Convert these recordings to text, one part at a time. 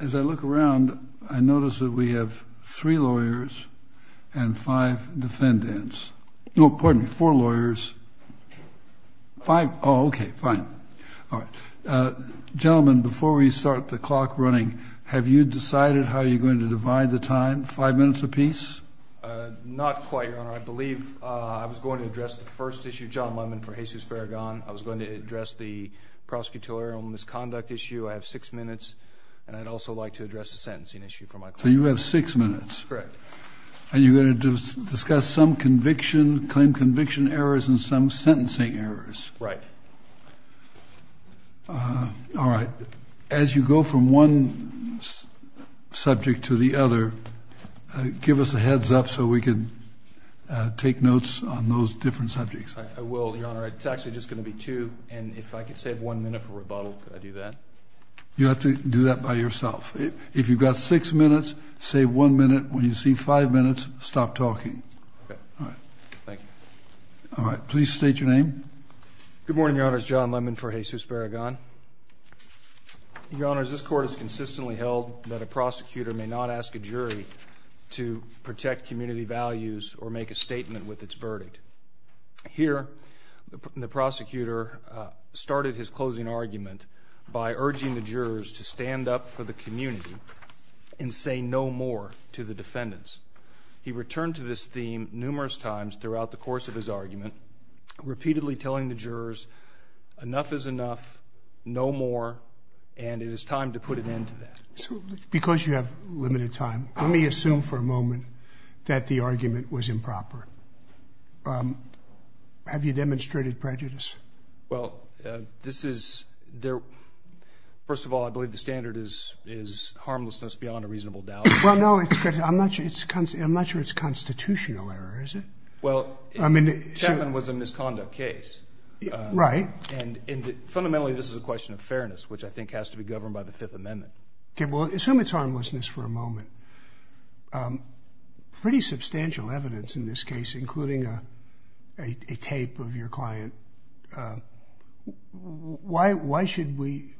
As I look around I notice that we have three lawyers and five defendants no pardon me four lawyers five okay fine all right gentlemen before we start the clock running have you decided how you're going to divide the time five minutes apiece not quite your honor I believe I was going to address the first issue John Lemon for Jesus Barragan I was going to address the prosecutorial misconduct issue I have six minutes and I'd also like to address the sentencing issue for my so you have six minutes correct and you're going to discuss some conviction claim conviction errors and some sentencing errors right all right as you go from one subject to the other give us a heads up so we can take notes on those different subjects I will your honor it's actually just going to be two and if I could save one minute for rebuttal I do that you have to do that by yourself if you've got six minutes save one minute when you see five minutes stop talking all right thank you all right please state your name good morning your honors John Lemon for Jesus Barragan your honors this court is consistently held that a prosecutor may not ask a jury to protect community values or make a statement with its verdict here the prosecutor started his closing argument by urging the jurors to stand up for the community and say no more to the defendants he returned to this theme numerous times throughout the course of his argument repeatedly telling the jurors enough is enough no more and it is time to put an end to that because you have limited time let the argument was improper have you demonstrated prejudice well this is there first of all I believe the standard is is harmlessness beyond a reasonable doubt well no it's good I'm not sure it's constant I'm not sure it's constitutional error is it well I mean it was a misconduct case right and fundamentally this is a question of fairness which I think has to be governed by the Fifth Amendment okay well assume it's harmlessness for a substantial evidence in this case including a tape of your client why why should we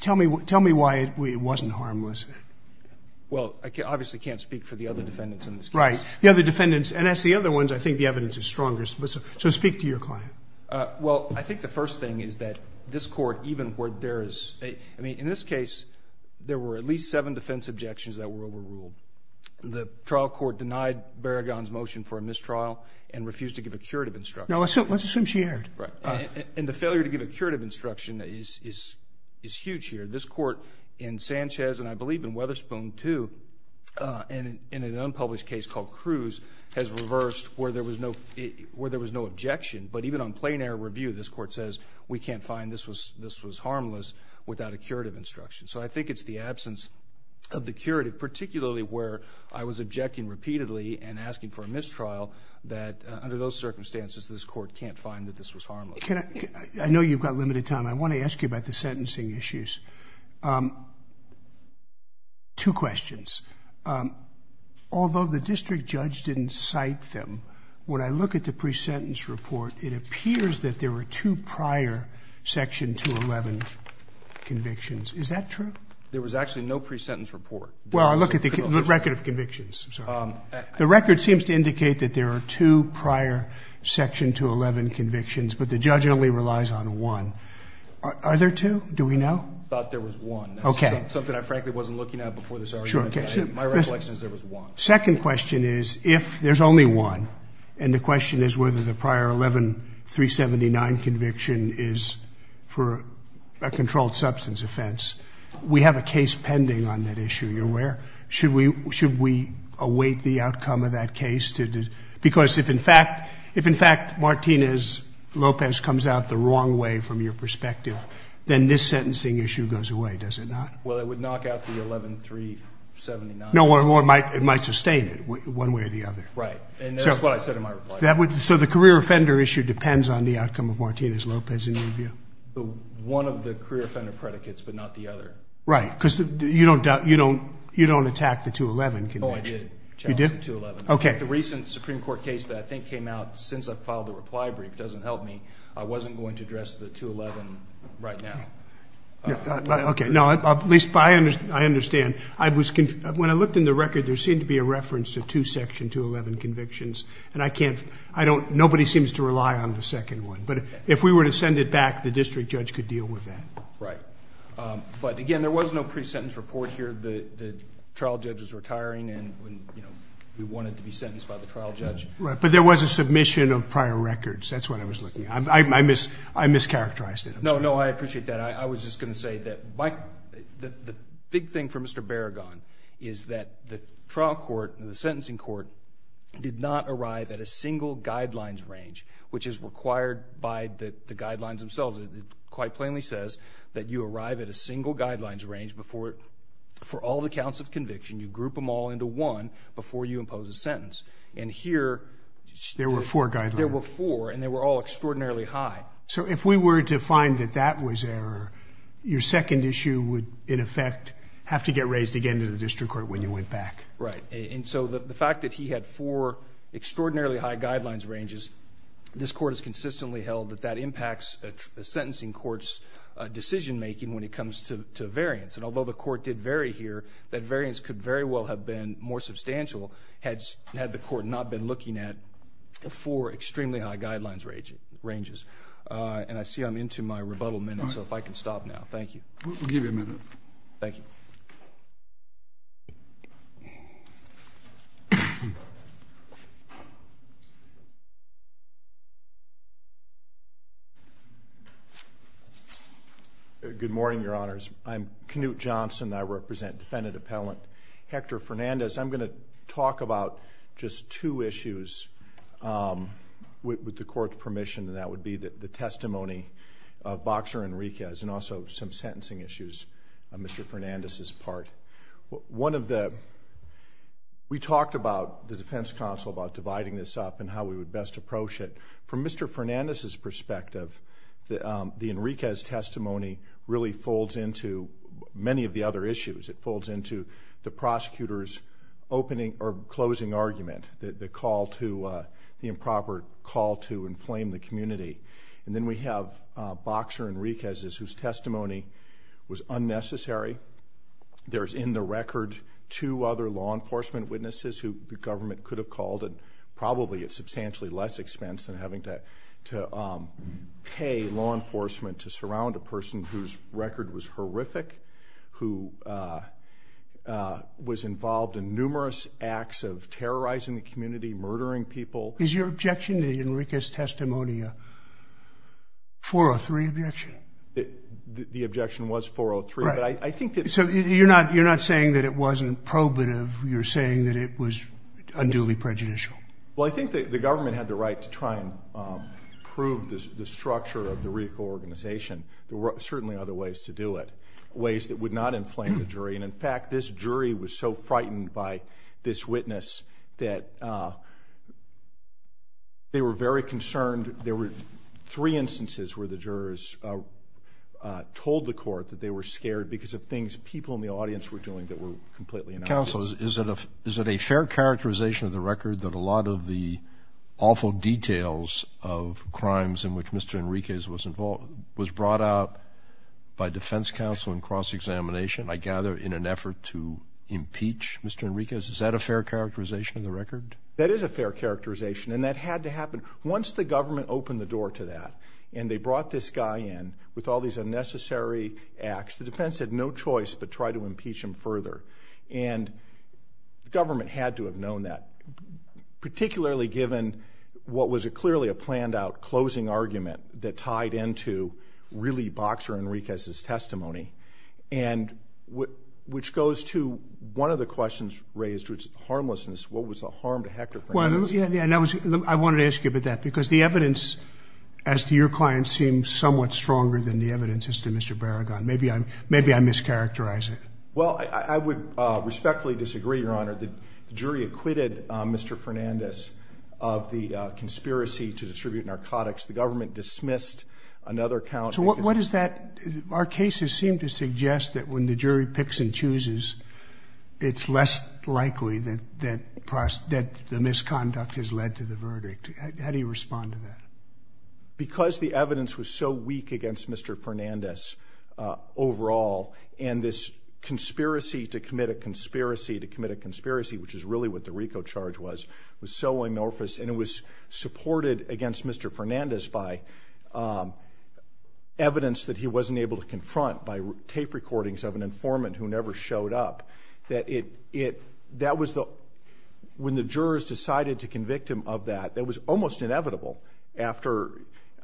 tell me what tell me why it wasn't harmless well I obviously can't speak for the other defendants in this right the other defendants and that's the other ones I think the evidence is strongest but so speak to your client well I think the first thing is that this court even where there is a I mean in this case there were at least seven defense objections that were overruled the trial court denied Berrigan's motion for a mistrial and refused to give a curative instruction now let's assume she aired right and the failure to give a curative instruction is is huge here this court in Sanchez and I believe in Weatherspoon too and in an unpublished case called Cruz has reversed where there was no where there was no objection but even on plain-air review this court says we can't find this was this was harmless without a curative instruction so I think it's the absence of the curative particularly where I was objecting repeatedly and asking for a mistrial that under those circumstances this court can't find that this was harmless I know you've got limited time I want to ask you about the sentencing issues two questions although the district judge didn't cite them when I look at the pre-sentence report it is that true there was actually no pre-sentence report well I look at the record of convictions the record seems to indicate that there are two prior section 211 convictions but the judge only relies on one are there two do we know okay second question is if there's only one and the question is whether the prior 11379 conviction is for a controlled substance offense we have a case pending on that issue you're where should we should we await the outcome of that case to do because if in fact if in fact Martinez Lopez comes out the wrong way from your perspective then this sentencing issue goes away does it not well it would knock out the 11379 no one more might it might sustain it one way or the other right and that's what I said in my that would so the career offender issue depends on the outcome of Martinez Lopez in the one of the career offender predicates but not the other right because you don't doubt you don't you don't attack the 211 can I did you did okay the recent Supreme Court case that I think came out since I filed a reply brief doesn't help me I wasn't going to address the 211 right now okay no at least by and I understand I was when I looked in the record there seemed to be a reference to two section 211 convictions and I can't I don't nobody seems to rely on the second one but if we were to send it back the district judge could deal with that right but again there was no pre-sentence report here the trial judge was retiring and we wanted to be sentenced by the trial judge right but there was a submission of prior records that's what I was looking I miss I mischaracterized it no no I appreciate that I was just gonna say that Mike the big thing for mr. Berrigan is that the trial court and the sentencing court did not arrive at a single guidelines range which is required by that the guidelines themselves it quite plainly says that you arrive at a single guidelines range before for all the counts of conviction you group them all into one before you impose a sentence and here there were four guys there were four and they were all extraordinarily high so if we were to find that that was error your second issue would in effect have to get raised again to the district court when you went back right and so the fact that he had four extraordinarily high guidelines ranges this court is consistently held that that impacts a sentencing courts decision-making when it comes to variance and although the court did vary here that variance could very well have been more substantial heads had the court not been looking at the four extremely high guidelines ranging ranges and I see I'm into my rebuttal minute so if I can stop now thank you thank you good morning your honors I'm Knute Johnson I represent defendant appellant Hector Fernandez I'm going to talk about just two issues with the court permission and that would be that the testimony of boxer Enriquez and also some sentencing issues mr. Fernandez's part one of the we talked about the defense counsel about dividing this up and how we would best approach it from mr. Fernandez's perspective the Enriquez testimony really folds into many of the other issues it folds into the prosecutors opening or closing argument that the call to the improper call to inflame the community and then we have boxer Enriquez's whose testimony was unnecessary there's in the record two other law enforcement witnesses who the government could have called and probably at substantially less expense than having to to pay law enforcement to was involved in numerous acts of terrorizing the community murdering people is your objection to Enriquez testimony a 403 objection it the objection was 403 right I think that so you're not you're not saying that it wasn't probative you're saying that it was unduly prejudicial well I think that the government had the right to try and prove this the structure of the recall organization there were certainly other ways to do it ways that would not inflame the jury and in fact this jury was so frightened by this witness that they were very concerned there were three instances where the jurors told the court that they were scared because of things people in the audience were doing that were completely in councils is it a is it a fair characterization of the record that a lot of the awful details of crimes in which mr. Enriquez was involved was brought out by defense counsel in cross-examination I gather in an effort to impeach mr. Enriquez is that a fair characterization of the record that is a fair characterization and that had to happen once the government opened the door to that and they brought this guy in with all these unnecessary acts the defense had no choice but try to impeach him further and government had to have known that particularly given what was a clearly a into really boxer Enriquez his testimony and what which goes to one of the questions raised which harmlessness what was the harm to Hector well yeah yeah no I wanted to ask you about that because the evidence as to your client seems somewhat stronger than the evidence is to mr. Barragan maybe I'm maybe I mischaracterize it well I would respectfully disagree your honor the jury acquitted mr. Fernandez of the conspiracy to distribute narcotics the another count so what is that our cases seem to suggest that when the jury picks and chooses it's less likely that that price that the misconduct has led to the verdict how do you respond to that because the evidence was so weak against mr. Fernandez overall and this conspiracy to commit a conspiracy to commit a conspiracy which is really what the Rico charge was was so amorphous and was supported against mr. Fernandez by evidence that he wasn't able to confront by tape recordings of an informant who never showed up that it it that was the when the jurors decided to convict him of that that was almost inevitable after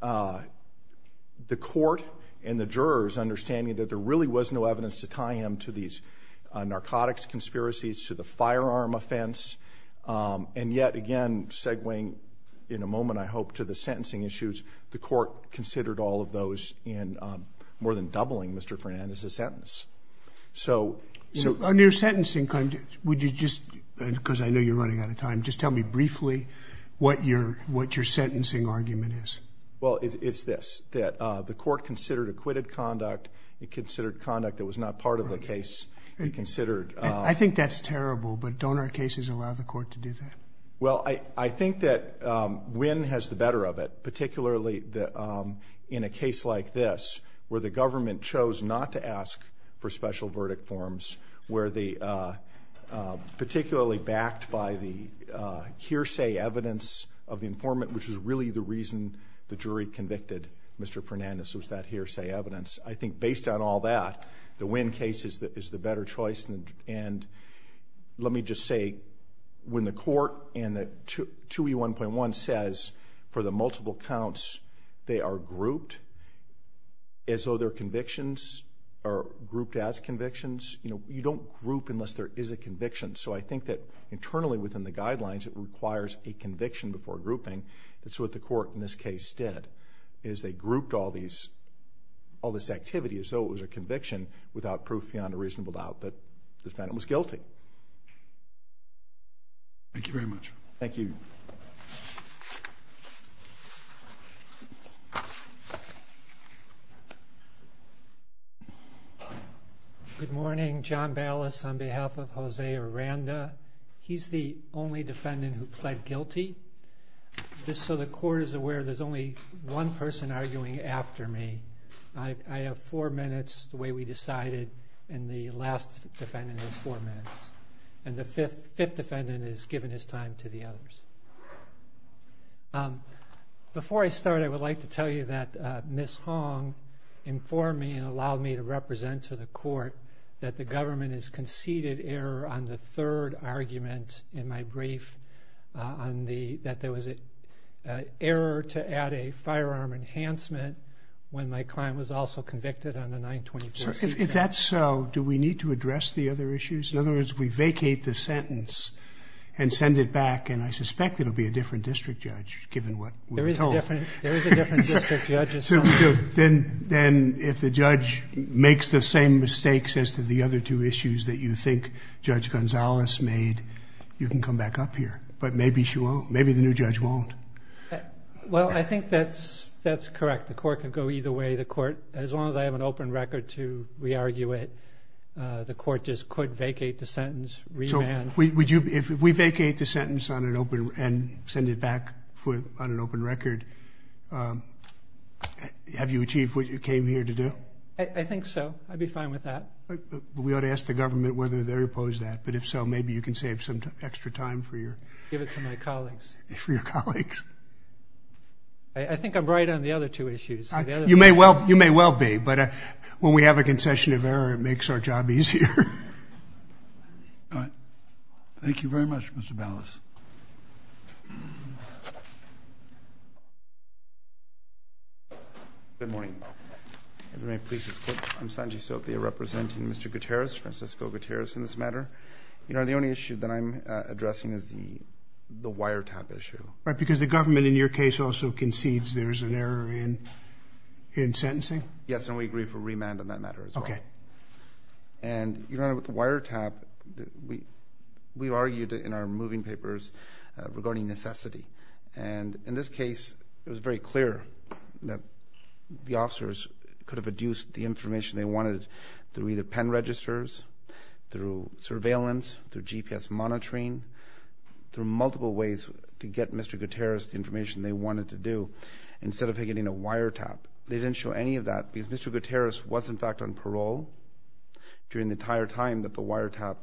the court and the jurors understanding that there really was no evidence to tie him to these narcotics conspiracies to the firearm offense and yet again segwaying in a moment I hope to the sentencing issues the court considered all of those in more than doubling mr. Fernandez a sentence so so under sentencing would you just because I know you're running out of time just tell me briefly what your what your sentencing argument is well it's this that the court considered acquitted conduct it considered conduct that was not part of the case and considered I think that's terrible but donor cases allow the court to do that well I I think that win has the better of it particularly the in a case like this where the government chose not to ask for special verdict forms where the particularly backed by the hearsay evidence of the informant which is really the reason the jury convicted mr. Fernandez was that hearsay evidence I think based on all that the win case is that is the better choice and and let me just say when the court and that to 2e 1.1 says for the multiple counts they are grouped as though their convictions are grouped as convictions you know you don't group unless there is a conviction so I think that internally within the guidelines it requires a conviction before grouping that's what the court in this case did is they grouped all these all this activity as a conviction without proof beyond a reasonable doubt that the defendant was guilty thank you very much thank you good morning John ballast on behalf of Jose Aranda he's the only defendant who pled guilty just so the court is aware there's only one person arguing after me I have four minutes the way we decided and the last defendant has four minutes and the fifth fifth defendant is given his time to the others before I start I would like to tell you that miss Hong informed me and allowed me to represent to the court that the government is conceded error on the third argument in my brief on the that there was a error to add a firearm enhancement when my client was also convicted on the 924 if that's so do we need to address the other issues in other words we vacate the sentence and send it back and I suspect it'll be a different district judge given what then then if the judge makes the same mistakes as to the other two issues that you think judge you can come back up here but maybe she won't maybe the new judge won't well I think that's that's correct the court can go either way the court as long as I have an open record to re-argue it the court just could vacate the sentence we would you if we vacate the sentence on an open and send it back for on an open record have you achieved what you came here to do I think so I'd be fine with that we ought to ask the government whether they're opposed that but if so maybe you can save some extra time for your colleagues I think I'm right on the other two issues you may well you may well be but when we have a concession of error it makes our job easier all right thank you very much mr. balance you good morning everybody pleases I'm Sanji Sophia representing mr. Gutierrez Francisco Gutierrez in this matter you know the only issue that I'm addressing is the the wiretap issue right because the government in your case also concedes there's an error in in sentencing yes and we agree for remand on that matter okay and you know with the wiretap we we argued in our moving papers regarding necessity and in this case it was very clear that the officers could have adduced the information they wanted through either pen registers through surveillance through GPS monitoring through multiple ways to get mr. Gutierrez the information they wanted to do instead of getting a wire tap they didn't show any of that because mr. Gutierrez was in fact on parole during the entire time that the wiretap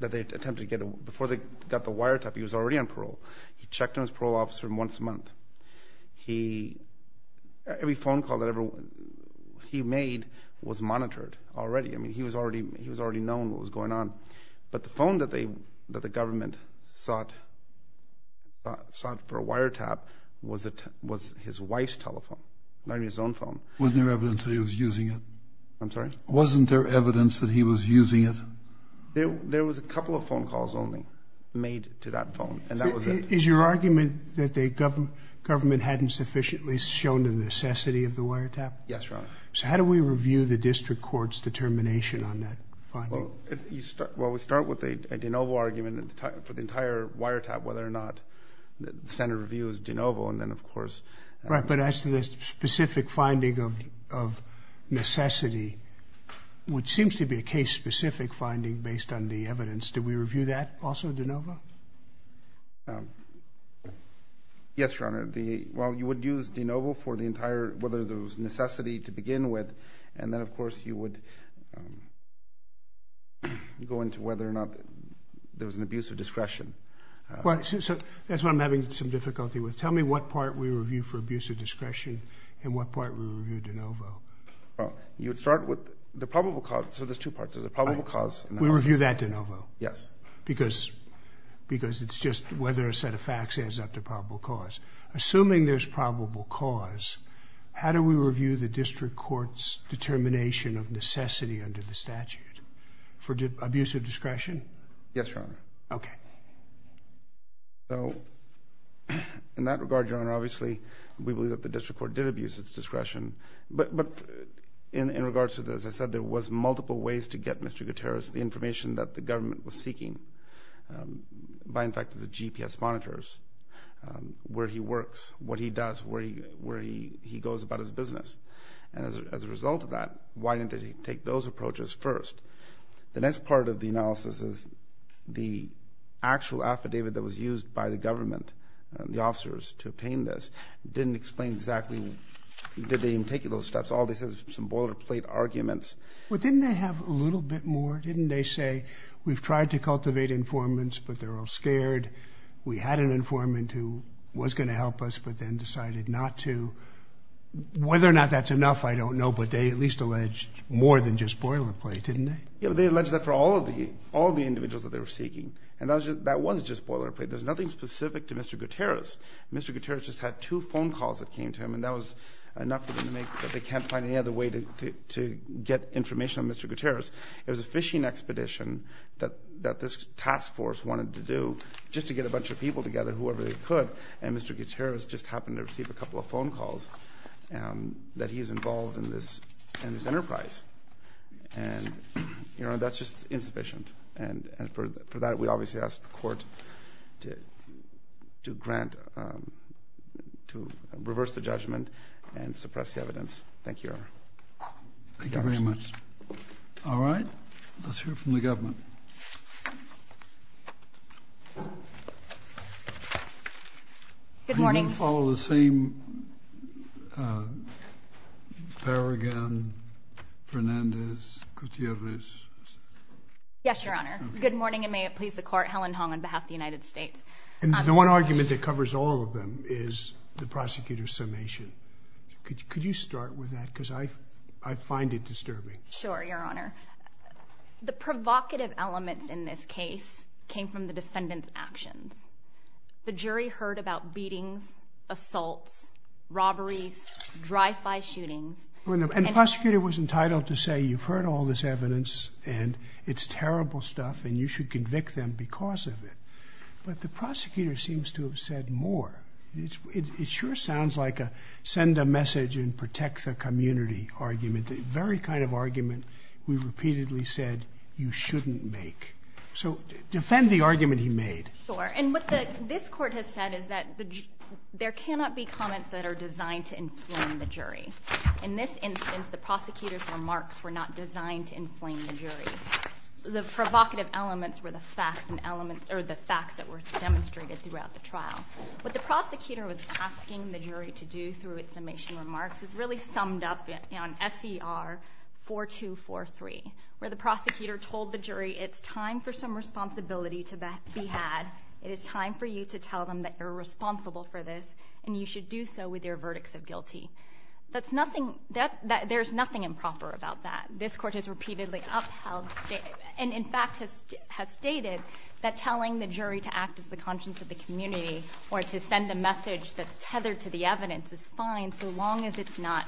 that they attempted to get before they got the wiretap he was already on parole he checked on his parole officer once a month he every phone call that everyone he made was monitored already I mean he was already he was already known what was going on but the phone that they that the government sought sought for a wiretap was it was his wife's telephone not his own phone wasn't there evidence he was using it I'm sorry wasn't there evidence that he was using it there there was a couple of calls only made to that phone and that was it is your argument that the government government hadn't sufficiently shown the necessity of the wiretap yes wrong so how do we review the district courts determination on that well we start with a de novo argument at the time for the entire wiretap whether or not the standard review is de novo and then of course right but as to this specific finding of necessity which seems to be a case specific finding based on the evidence did we review that also de novo yes your honor the well you would use de novo for the entire whether there was necessity to begin with and then of course you would go into whether or not there was an abuse of discretion well so that's what I'm having some difficulty with tell me what part we review for abuse of discretion and what part we reviewed de novo you'd start with the probable cause so there's two parts of the probable cause we review that de novo yes because because it's just whether a set of facts ends up to probable cause assuming there's probable cause how do we review the district courts determination of necessity under the statute for abuse of discretion yes your honor okay so in that regard your honor obviously we believe that the district court did abuse its discretion but but in in regards to this I said there was multiple ways to get mr. Gutierrez the information that the government was seeking by in fact the GPS monitors where he works what he does where he where he he goes about his business and as a result of that why didn't they take those approaches first the next part of the analysis is the actual affidavit that was used by the government the officers to obtain this didn't explain exactly did they even take those steps all this is some boilerplate arguments but didn't they have a little bit more didn't they say we've tried to cultivate informants but they're all scared we had an informant who was going to help us but then decided not to whether or not that's enough I don't know but they at least alleged more than just boilerplate didn't they yeah they alleged that for all of the all the individuals that they were seeking and that was just boilerplate there's nothing specific to mr. Gutierrez mr. Gutierrez just had two phone calls that came to him and that was enough to make that they can't find any other way to get information on mr. Gutierrez it was a fishing expedition that that this task force wanted to do just to get a bunch of people together whoever they could and mr. Gutierrez just happened to receive a couple of phone calls and that he's involved in this and his enterprise and you know that's just insufficient and and for that we obviously asked the court to to grant to reverse the judgment and suppress the evidence thank you thank you very much all right let's hear from the government good morning follow the same Farraghan Fernandez Gutierrez yes your honor good morning and may it please the is the prosecutor's summation could you start with that because I I find it disturbing sure your honor the provocative elements in this case came from the defendant's actions the jury heard about beatings assaults robberies drive-by shootings when the prosecutor was entitled to say you've heard all this evidence and it's terrible stuff and you should convict them because of it but the prosecutor seems to have said more it sure sounds like a send a message and protect the community argument the very kind of argument we repeatedly said you shouldn't make so defend the argument he made or and what the this court has said is that there cannot be comments that are designed to inflame the jury in this instance the prosecutor's remarks were not designed to inflame the jury the provocative elements were the facts and elements or the facts that were demonstrated throughout the trial but the prosecutor was asking the jury to do through its summation remarks is really summed up in an SCR 4243 where the prosecutor told the jury it's time for some responsibility to back be had it is time for you to tell them that you're responsible for this and you should do so with your verdicts of guilty that's repeatedly upheld and in fact has has stated that telling the jury to act as the conscience of the community or to send a message that's tethered to the evidence is fine so long as it's not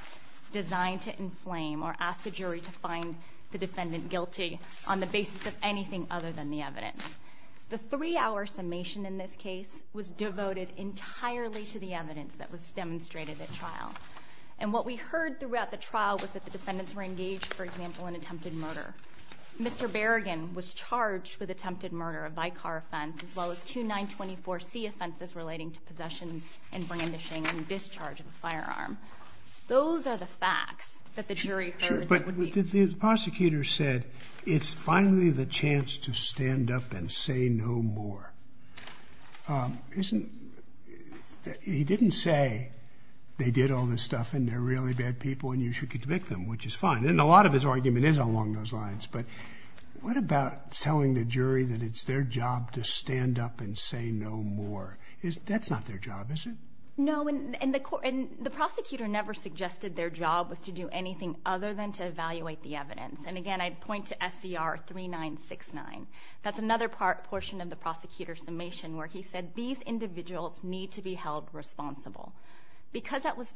designed to inflame or ask the jury to find the defendant guilty on the basis of anything other than the evidence the three-hour summation in this case was devoted entirely to the evidence that was demonstrated at trial and what we heard throughout the trial was that the mr. Berrigan was charged with attempted murder a by car offense as well as to 924 C offenses relating to possession and brandishing and discharge of a firearm those are the facts that the jury sure but the prosecutor said it's finally the chance to stand up and say no more isn't he didn't say they did all this stuff and they're really bad people and you should convict them which is fine and a lot of his argument is along those lines but what about telling the jury that it's their job to stand up and say no more is that's not their job is it no and the court and the prosecutor never suggested their job was to do anything other than to evaluate the evidence and again I'd point to SCR three nine six nine that's another part portion of the prosecutor's summation where he said these individuals need to be held responsible because that was improper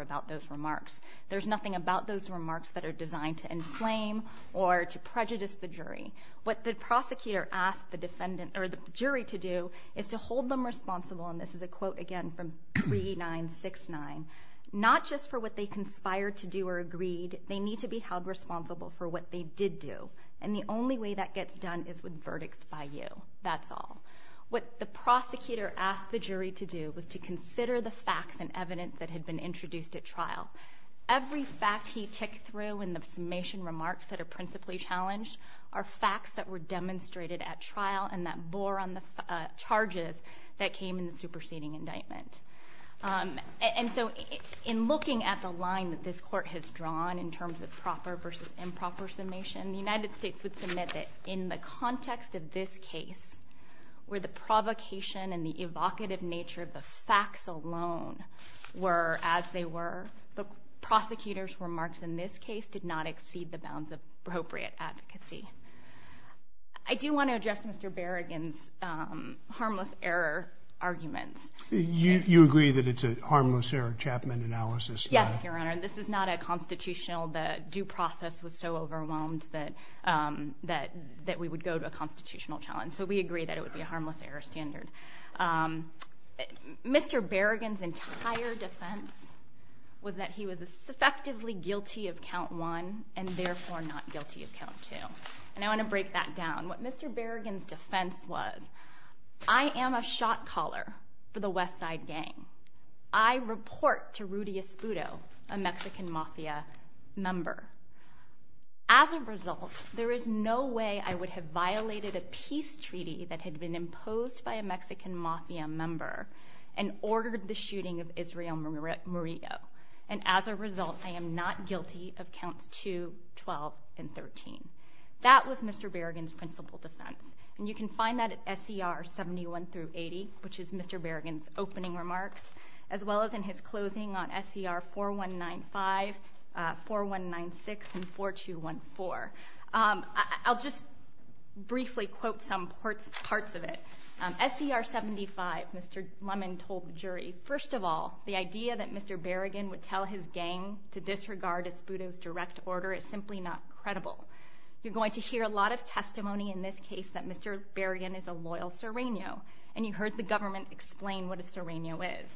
about those remarks there's nothing about those remarks that are designed to inflame or to prejudice the jury what the prosecutor asked the defendant or the jury to do is to hold them responsible and this is a quote again from three nine six nine not just for what they conspired to do or agreed they need to be held responsible for what they did do and the only way that gets done is with verdicts by you that's all what the prosecutor asked the jury to do was to consider the facts and evidence that had been introduced at trial every fact he ticked through in the summation remarks that are principally challenged are facts that were demonstrated at trial and that bore on the charges that came in the superseding indictment and so it's in looking at the line that this court has drawn in terms of proper versus improper summation the United States would submit it in the context of this case where the provocation and the evocative nature of the facts alone were as they were the prosecutors remarks in this case did not exceed the bounds of appropriate advocacy I do want to address mr. Berrigan's harmless error arguments you agree that it's a harmless error Chapman analysis yes your honor this is not a constitutional that due process was so overwhelmed that that that would go to a constitutional challenge so we agree that it would be a harmless error standard mr. Berrigan's entire defense was that he was effectively guilty of count one and therefore not guilty of count two and I want to break that down what mr. Berrigan's defense was I am a shot-caller for the Westside gang I report to Rudy Espudo a Mexican mafia member as a result there is no way I would have violated a peace treaty that had been imposed by a Mexican mafia member and ordered the shooting of Israel Murillo and as a result I am not guilty of counts to 12 and 13 that was mr. Berrigan's principal defense and you can find that at SCR 71 through 80 which is mr. Berrigan's opening remarks as well as in his closing on SCR 4195 4196 and 4214 I'll just briefly quote some parts parts of it SCR 75 mr. Lemon told the jury first of all the idea that mr. Berrigan would tell his gang to disregard Espudo's direct order is simply not credible you're going to hear a lot of testimony in this case that mr. Berrigan is a loyal serrano and you heard the government explain what a serrano is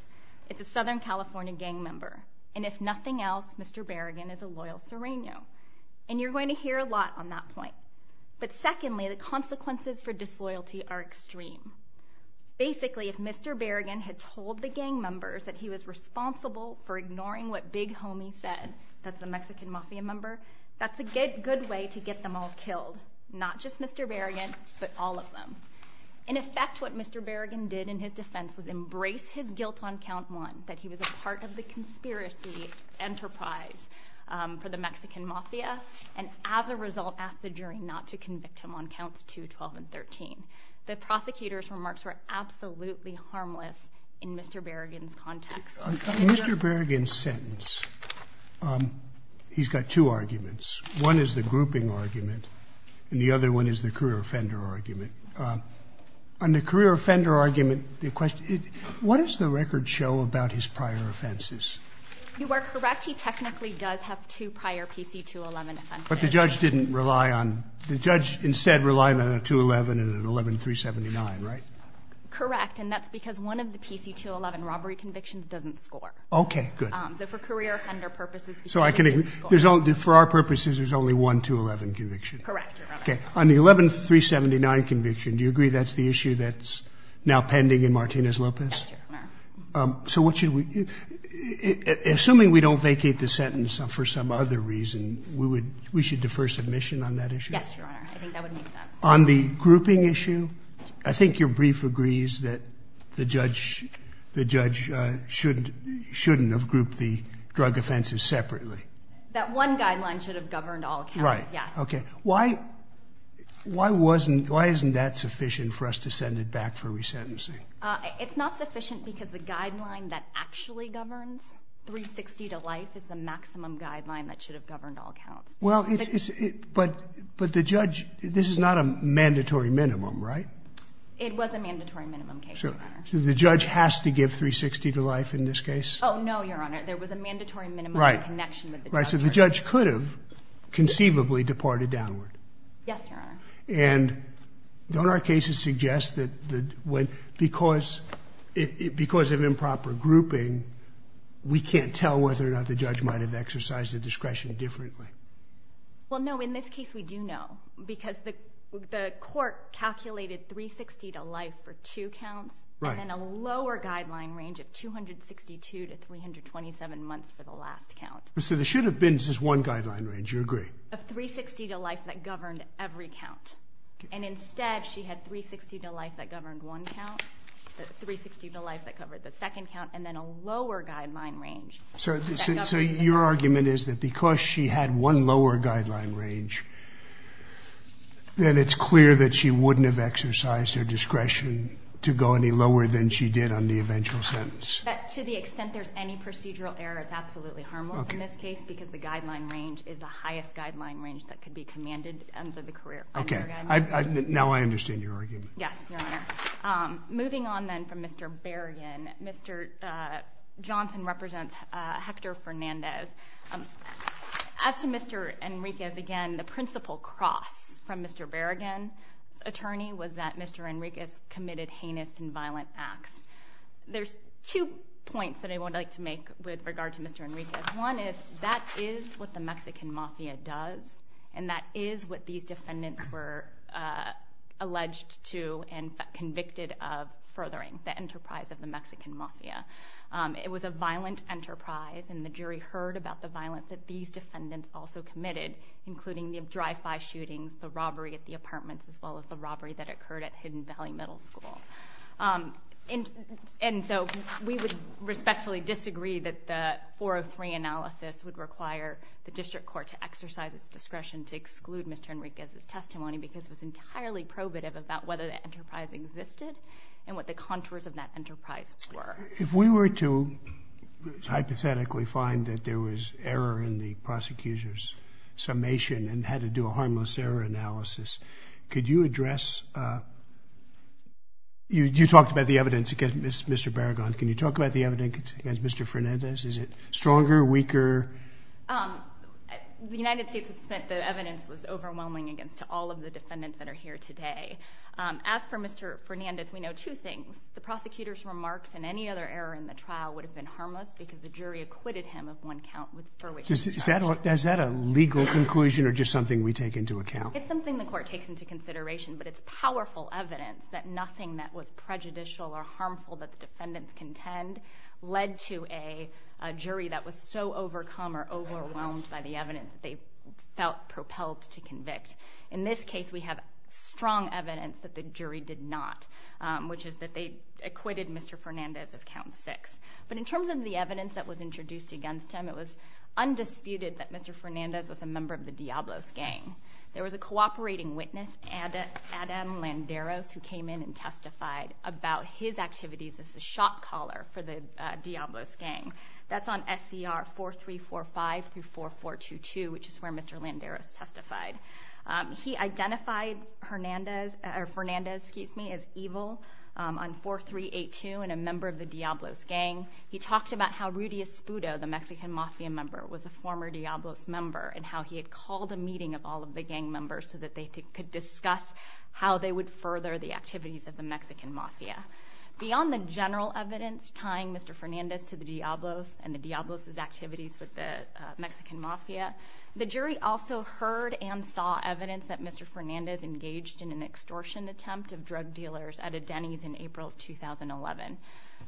it's a Southern California gang member and if nothing else mr. Berrigan is a loyal serrano and you're going to hear a lot on that point but secondly the consequences for disloyalty are extreme basically if mr. Berrigan had told the gang members that he was responsible for ignoring what big homie said that's the Mexican mafia member that's a good good way to get them all killed not just mr. Berrigan but all of them in effect what mr. Berrigan did in his defense was embrace his guilt on count one that he was a part of the conspiracy enterprise for the Mexican mafia and as a result asked the jury not to convict him on counts 2 12 and 13 the prosecutors remarks were absolutely harmless in mr. Berrigan's context mr. Berrigan sentence he's got two arguments one is the grouping argument and the other one is the career offender argument on the career offender argument the question is what is the record show about his prior offenses you are correct he technically does have two prior PC 211 but the judge didn't rely on the judge instead relying on a 211 and an 11 379 right correct and that's because one of the PC 211 robbery convictions doesn't score okay good so for career offender purposes so I can there's only for our purposes there's only one to 11 conviction correct okay on the 11 379 conviction do you agree that's the issue that's now pending in Martinez Lopez so what should we assuming we don't vacate the sentence for some other reason we would we should defer submission on that issue on the grouping issue I think your brief agrees that the judge the judge shouldn't shouldn't have grouped the drug offenses separately that one guideline should have governed all right yeah okay why why wasn't why isn't that sufficient for us to send it back for resentencing it's not sufficient because the guideline that actually governs 360 to life is the maximum guideline that should have governed all counts well it's it but but the judge this is not a mandatory minimum right it was a mandatory minimum case so the judge has to give 360 to life in this case oh no your honor there was a mandatory minimum right so the judge could have conceivably departed downward yes your honor and don't our cases suggest that the way because it because of improper grouping we can't tell whether or not the judge might have exercised the discretion differently well no in this case we do know because the court calculated 360 to life for two counts and a lower guideline range of 262 to 127 months for the last count so there should have been just one guideline range you agree of 360 to life that governed every count and instead she had 360 to life that governed one count 360 to life that covered the second count and then a lower guideline range so your argument is that because she had one lower guideline range then it's clear that she wouldn't have exercised her discretion to go any lower than she did on the eventual sentence to the extent there's any procedural error it's absolutely harmless in this case because the guideline range is the highest guideline range that could be commanded under the career okay now I understand your argument yes moving on then from mr. Berrigan mr. Johnson represents Hector Fernandez as to mr. Enriquez again the principal cross from mr. Berrigan attorney was that mr. Enriquez committed heinous and violent acts there's two points that I would like to make with regard to mr. Enriquez one is that is what the Mexican Mafia does and that is what these defendants were alleged to and convicted of furthering the enterprise of the Mexican Mafia it was a violent enterprise and the jury heard about the violence that these defendants also committed including the drive-by shootings the robbery at the apartments as well as the robbery that and and so we would respectfully disagree that the 403 analysis would require the district court to exercise its discretion to exclude mr. Enriquez as testimony because it was entirely probative about whether the enterprise existed and what the contours of that enterprise were if we were to hypothetically find that there was error in the prosecutors summation and had to a harmless error analysis could you address you you talked about the evidence against mr. Berrigan can you talk about the evidence against mr. Fernandez is it stronger weaker the United States has spent the evidence was overwhelming against all of the defendants that are here today as for mr. Fernandez we know two things the prosecutors remarks and any other error in the trial would have been harmless because the jury acquitted him of one conclusion or just something we take into account it's something the court takes into consideration but it's powerful evidence that nothing that was prejudicial or harmful that the defendants contend led to a jury that was so overcome or overwhelmed by the evidence they felt propelled to convict in this case we have strong evidence that the jury did not which is that they acquitted mr. Fernandez of count six but in terms of the evidence that was the Diablos gang there was a cooperating witness and Adam Landeros who came in and testified about his activities as a shot-caller for the Diablos gang that's on SCR 4 3 4 5 through 4 4 2 2 which is where mr. Landeros testified he identified Hernandez or Fernandez keeps me as evil on 4 3 8 2 and a member of the Diablos gang he talked about how Rudy Espudo the Mexican mafia member was a former Diablos member and how he had called a meeting of all of the gang members so that they could discuss how they would further the activities of the Mexican mafia beyond the general evidence tying mr. Fernandez to the Diablos and the Diablos activities with the Mexican mafia the jury also heard and saw evidence that mr. Fernandez engaged in an extortion attempt of drug dealers at a Denny's in April of 2011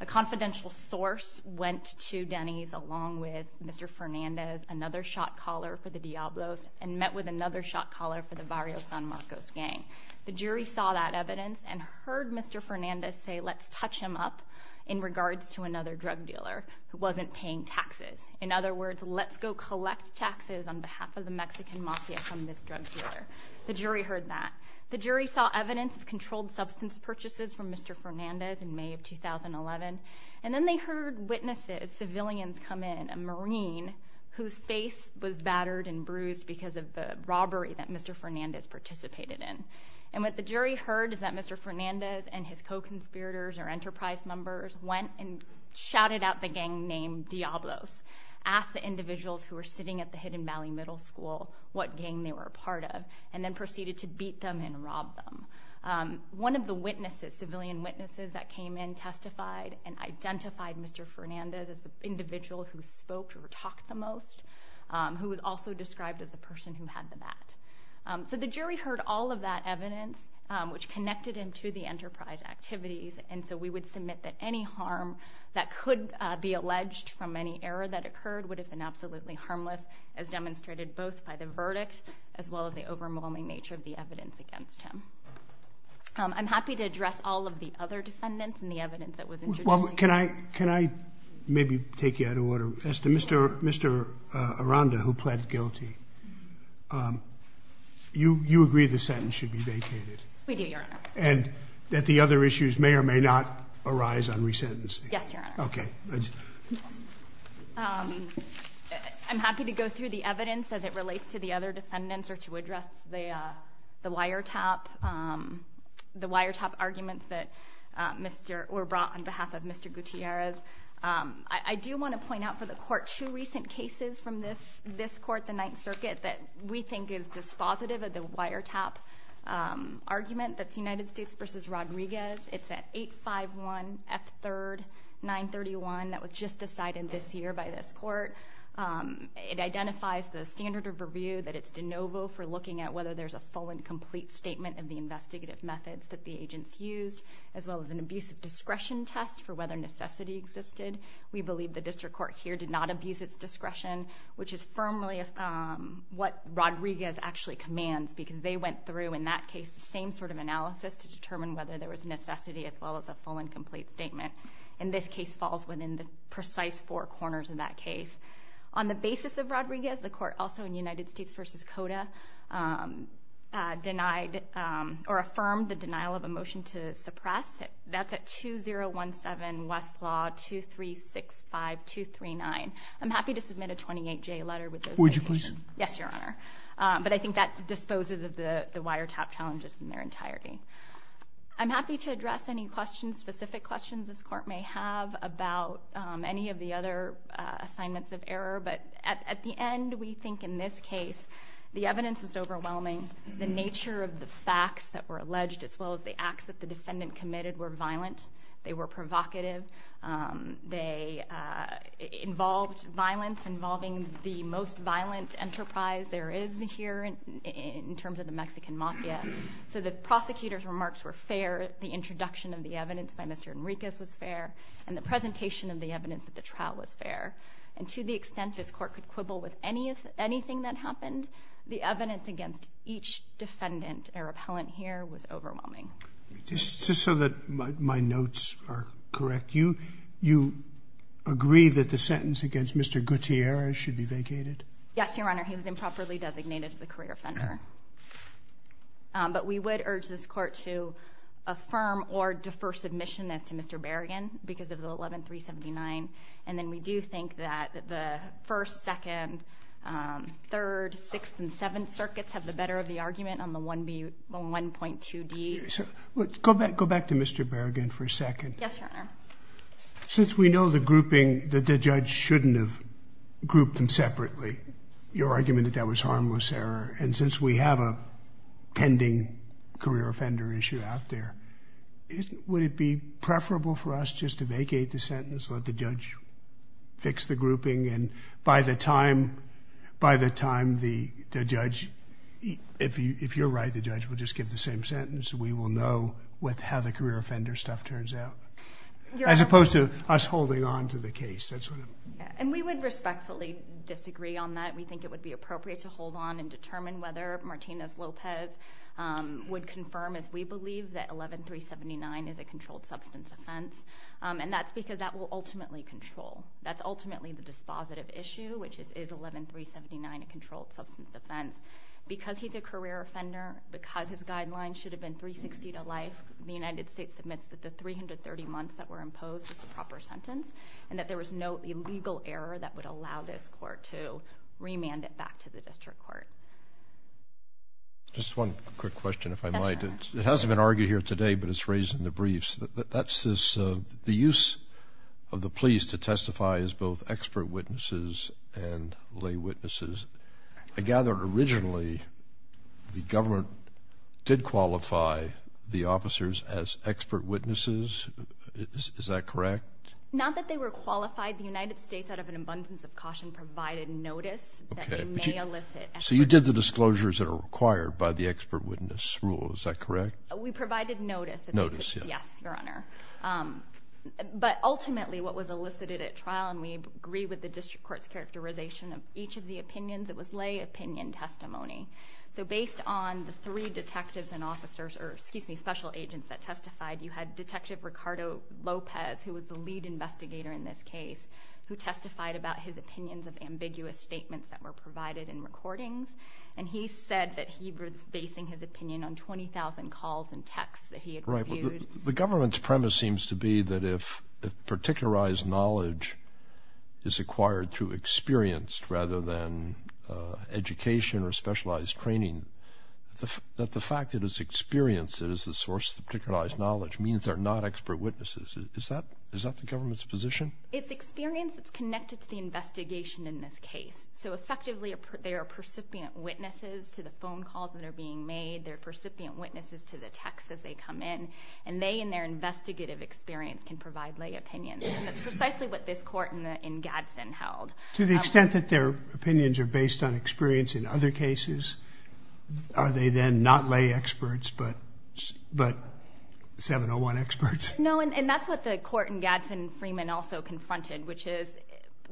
a confidential source went to Denny's along with mr. Fernandez another shot-caller for the Diablos and met with another shot-caller for the Barrios San Marcos gang the jury saw that evidence and heard mr. Fernandez say let's touch him up in regards to another drug dealer who wasn't paying taxes in other words let's go collect taxes on behalf of the Mexican mafia from this drug dealer the jury heard that the jury saw evidence of controlled substance purchases from mr. Fernandez in May of 2011 and then they heard witnesses civilians come in a marine whose face was battered and bruised because of the robbery that mr. Fernandez participated in and what the jury heard is that mr. Fernandez and his co-conspirators or enterprise members went and shouted out the gang named Diablos asked the individuals who were sitting at the Hidden Valley Middle School what gang they were a part of and then proceeded to beat them and rob them one of the witnesses civilian witnesses that came in testified and identified mr. Fernandez as the individual who spoke or talked the most who was also described as a person who had the bat so the jury heard all of that evidence which connected him to the enterprise activities and so we would submit that any harm that could be alleged from any error that occurred would have been absolutely harmless as demonstrated both by the verdict as well as the overwhelming nature of the address all of the other defendants and the evidence that was can I can I maybe take you out of order mr. mr. Aranda who pled guilty you you agree the sentence should be vacated and that the other issues may or may not arise on resentencing okay I'm happy to go through the evidence as it relates to the other defendants or to address the the wiretap the wiretap arguments that mr. or brought on behalf of mr. Gutierrez I do want to point out for the court two recent cases from this this court the Ninth Circuit that we think is dispositive of the wiretap argument that's United States versus Rodriguez it's at 851 f3rd 931 that was just decided this year by this court it is a full and complete statement of the investigative methods that the agents used as well as an abuse of discretion test for whether necessity existed we believe the district court here did not abuse its discretion which is firmly if what Rodriguez actually commands because they went through in that case the same sort of analysis to determine whether there was necessity as well as a full and complete statement and this case falls within the precise four corners of that case on the basis of Rodriguez the court also in United States versus Coda denied or affirmed the denial of a motion to suppress it that's at two zero one seven Westlaw two three six five two three nine I'm happy to submit a 28 J letter with would you please yes your honor but I think that disposes of the the wiretap challenges in their entirety I'm happy to address any questions specific questions this court may have about any of the other assignments of error but at the end we think in this case the evidence is overwhelming the nature of the facts that were alleged as well as the acts that the defendant committed were violent they were provocative they involved violence involving the most violent enterprise there is here in terms of the Mexican Mafia so the prosecutors remarks were fair the introduction of the evidence by mr. Enriquez was fair and the presentation of the evidence that the trial was fair and to the extent this court could quibble with any of anything that happened the evidence against each defendant a repellent here was overwhelming just so that my notes are correct you you agree that the sentence against mr. Gutierrez should be vacated yes your honor he was improperly designated as a career offender but we would urge this court to affirm or defer submission as to mr. Berrigan because of the 11379 and then we do think that the first second third sixth and seventh circuits have the better of the argument on the 1b 1.2 D so let's go back go back to mr. Berrigan for a second yes since we know the grouping that the judge shouldn't have grouped them separately your argument that that was harmless error and since we have a career offender issue out there is would it be preferable for us just to vacate the sentence let the judge fix the grouping and by the time by the time the judge if you if you're right the judge will just give the same sentence we will know with how the career offender stuff turns out as opposed to us holding on to the case that's what and we would respectfully disagree on that we think it would be appropriate to hold on and determine whether Martinez Lopez would confirm as we believe that 11379 is a controlled substance offense and that's because that will ultimately control that's ultimately the dispositive issue which is is 11379 a controlled substance offense because he's a career offender because his guidelines should have been 360 to life the United States admits that the 330 months that were imposed as the proper sentence and that there was no illegal error that would allow this court to remand it back to the district court just one quick question if I might it hasn't been argued here today but it's raised in the briefs that that's this the use of the police to testify as both expert witnesses and lay witnesses I gathered originally the government did qualify the officers as expert witnesses is that correct not that they were qualified the United States out of an abundance of caution provided notice so you did the disclosures that are required by the expert witness rule is that correct we provided notice notice yes your honor but ultimately what was elicited at trial and we agree with the district courts characterization of each of the opinions it was lay opinion testimony so based on the three detectives and officers or excuse me special agents that testified you had Ricardo Lopez who was the lead investigator in this case who testified about his opinions of ambiguous statements that were provided in recordings and he said that he was basing his opinion on 20,000 calls and texts that he had right the government's premise seems to be that if the particularized knowledge is acquired through experienced rather than education or specialized training the fact that his experience is the source the particularized knowledge means they're not expert witnesses is that is that the government's position it's experience it's connected to the investigation in this case so effectively they are percipient witnesses to the phone calls that are being made their percipient witnesses to the text as they come in and they in their investigative experience can provide lay opinions and that's precisely what this court in Gadsden held to the extent that their opinions are based on experience in other cases are they then not lay experts but but 701 experts no and that's what the court in Gadsden Freeman also confronted which is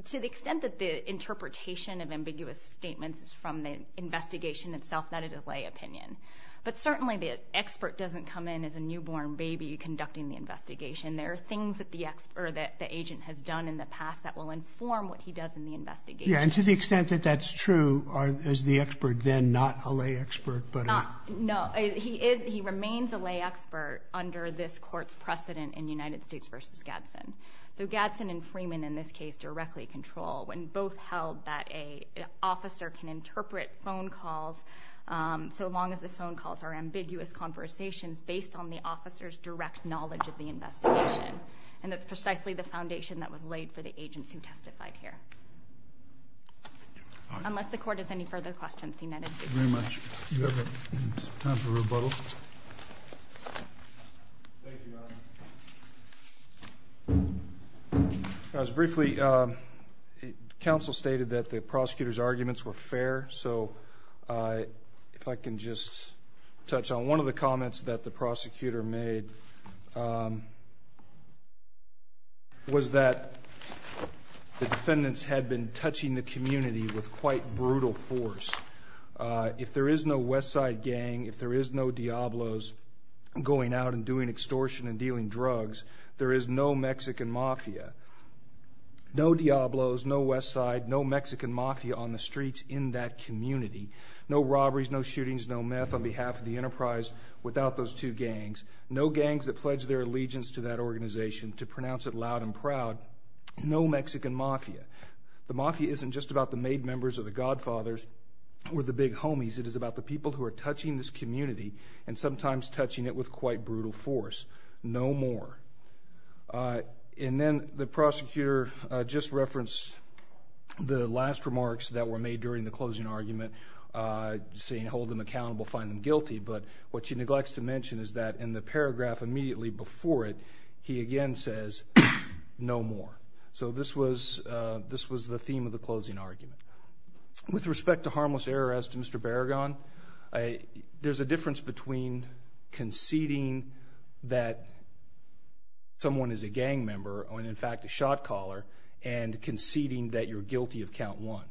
to the extent that the interpretation of ambiguous statements is from the investigation itself that it is lay opinion but certainly the expert doesn't come in as a newborn baby conducting the investigation there are things that the expert that the agent has done in the past that will inform what he does in the investigation to the extent that that's true are as the expert then not a lay expert but no he is he remains a lay expert under this court's precedent in United States versus Gadsden so Gadsden and Freeman in this case directly control when both held that a officer can interpret phone calls so long as the phone calls are ambiguous conversations based on the officers direct knowledge of the investigation and that's precisely the foundation that was laid for the agents who testified here unless the court is any further questions I was briefly council stated that the prosecutors arguments were fair so I if I can just touch on one of the comments that the prosecutor made was that the defendants had been touching the community with quite brutal force if there is no West Side gang if there is no Diablos going out and doing extortion and dealing drugs there is no Mexican mafia no Diablos no West Side no Mexican mafia on the streets in that community no robberies no shootings no meth on behalf of the enterprise without those two gangs no gangs that pledge their allegiance to that organization to pronounce it loud and proud no Mexican mafia the mafia isn't just about the made members of the Godfathers or the big homies it is about the people who are touching this community and sometimes touching it with quite brutal force no more and then the prosecutor just referenced the last remarks that were made during the closing argument saying hold them accountable find them guilty but what she neglects to mention is that in the paragraph immediately before it he again says no more so this was this was the theme of the closing argument with respect to harmless error as to Mr. Barragán I there's a difference between conceding that someone is a gang member or in fact a shot-caller and conceding that you're guilty of count one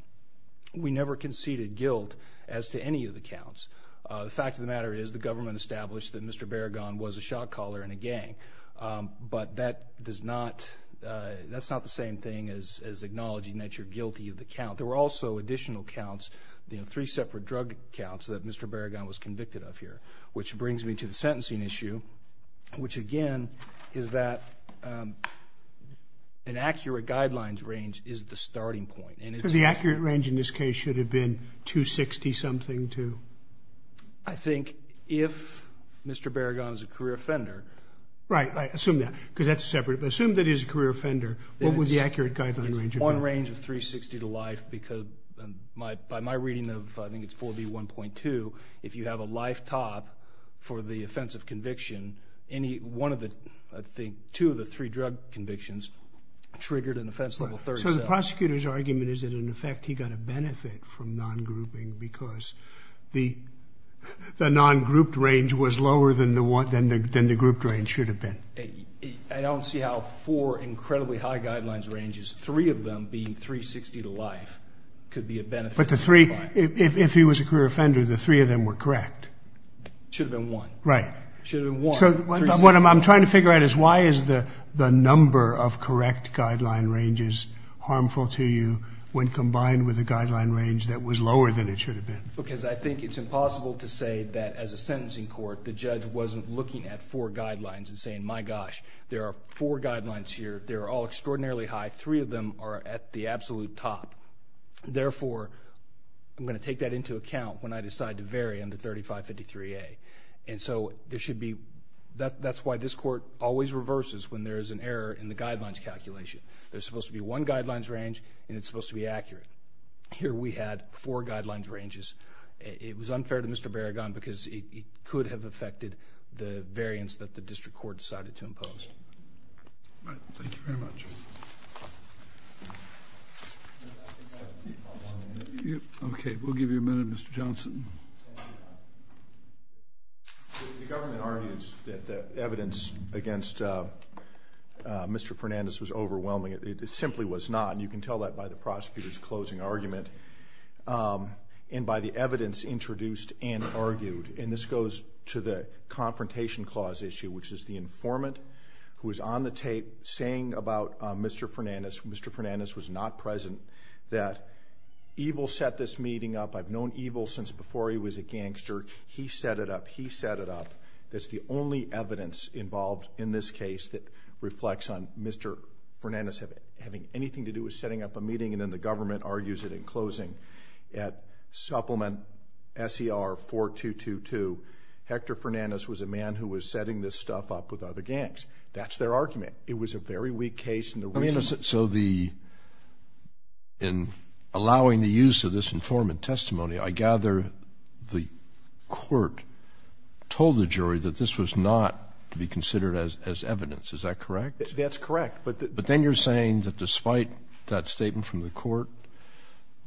we never conceded guilt as to any of the counts the fact of the matter is the government established that Mr. Barragán was a as acknowledging that you're guilty of the count there were also additional counts the three separate drug counts that Mr. Barragán was convicted of here which brings me to the sentencing issue which again is that an accurate guidelines range is the starting point and it's the accurate range in this case should have been 260 something to I think if Mr. Barragán is a career offender right I assume that because that's separate but assume that is a range of 360 to life because my by my reading of I think it's 4d 1.2 if you have a lifetop for the offensive conviction any one of the I think two of the three drug convictions triggered an offense level third so the prosecutor's argument is that in effect he got a benefit from non-grouping because the the non-grouped range was lower than the one then the group drain should have I don't see how for incredibly high guidelines ranges three of them being 360 to life could be a benefit but the three if he was a career offender the three of them were correct should have been one right so what I'm trying to figure out is why is the the number of correct guideline ranges harmful to you when combined with a guideline range that was lower than it should have been because I think it's impossible to say that as a sentencing court the judge wasn't looking at four guidelines and saying my gosh there are four guidelines here they're all extraordinarily high three of them are at the absolute top therefore I'm going to take that into account when I decide to vary under 35 53 a and so there should be that that's why this court always reverses when there is an error in the guidelines calculation there's supposed to be one guidelines range and it's supposed to be accurate here we had four guidelines ranges it was unfair to mr. Berrigan because it could have affected the variance that the district court decided to impose okay we'll give you a minute mr. Johnson that evidence against mr. Fernandez was overwhelming it simply was not and you can tell that by the prosecutor's closing argument and by the evidence introduced and argued and this goes to the confrontation clause issue which is the informant who is on the tape saying about mr. Fernandez mr. Fernandez was not present that evil set this meeting up I've known evil since before he was a gangster he set it up he set it up that's the only evidence involved in this case that reflects on mr. Fernandez having anything to do with setting up a meeting and then the government argues it in closing at supplement SCR 4222 Hector Fernandez was a man who was setting this stuff up with other gangs that's their argument it was a very weak case and the reason is it so the in allowing the use of this informant testimony I gather the court told the evidence is that correct that's correct but but then you're saying that despite that statement from the court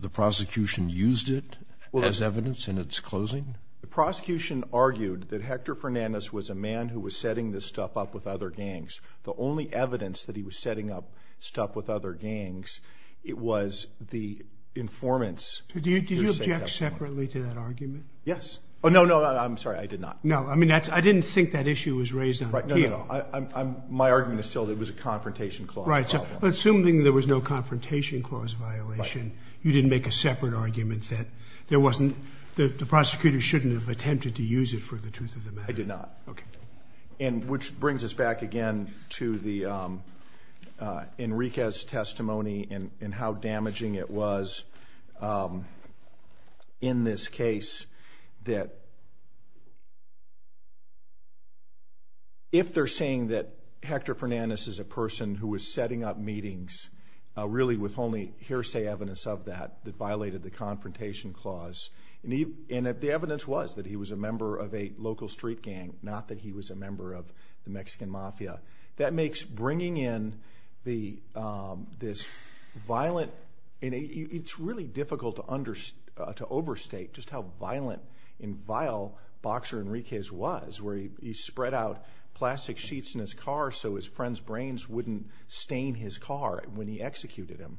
the prosecution used it well as evidence in its closing the prosecution argued that Hector Fernandez was a man who was setting this stuff up with other gangs the only evidence that he was setting up stuff with other gangs it was the informants yes oh no no I'm sorry I did no I mean that's I didn't think that issue was raised my argument is still there was a confrontation clause right so assuming there was no confrontation clause violation you didn't make a separate argument that there wasn't the prosecutor shouldn't have attempted to use it for the truth of the matter I did not okay and which brings us back again to the Enriquez testimony and how damaging it was in this case that if they're saying that Hector Fernandez is a person who was setting up meetings really with only hearsay evidence of that violated the confrontation clause and if the evidence was that he was a member of a local street gang not that he was a member of the Mexican mafia that makes bringing in the this violent in a it's really difficult to under to overstate just how violent in vile boxer Enriquez was where he spread out plastic sheets in his car so his friends brains wouldn't stain his car when he executed him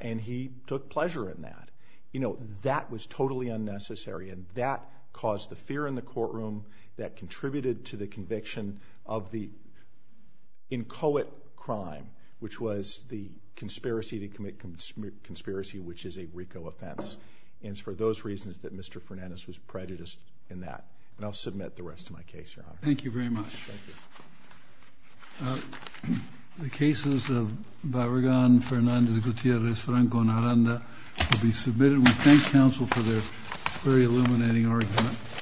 and he took pleasure in that you know that was totally unnecessary and that caused the fear in the courtroom that contributed to the conviction of the inchoate crime which was the conspiracy to commit conspiracy which is a RICO offense and for those reasons that Mr. Fernandez was prejudiced in that and I'll submit the rest of my case thank you very much the cases of Barragan Fernandez Gutierrez Franco Naranda will be submitted we thank counsel for their very illuminating argument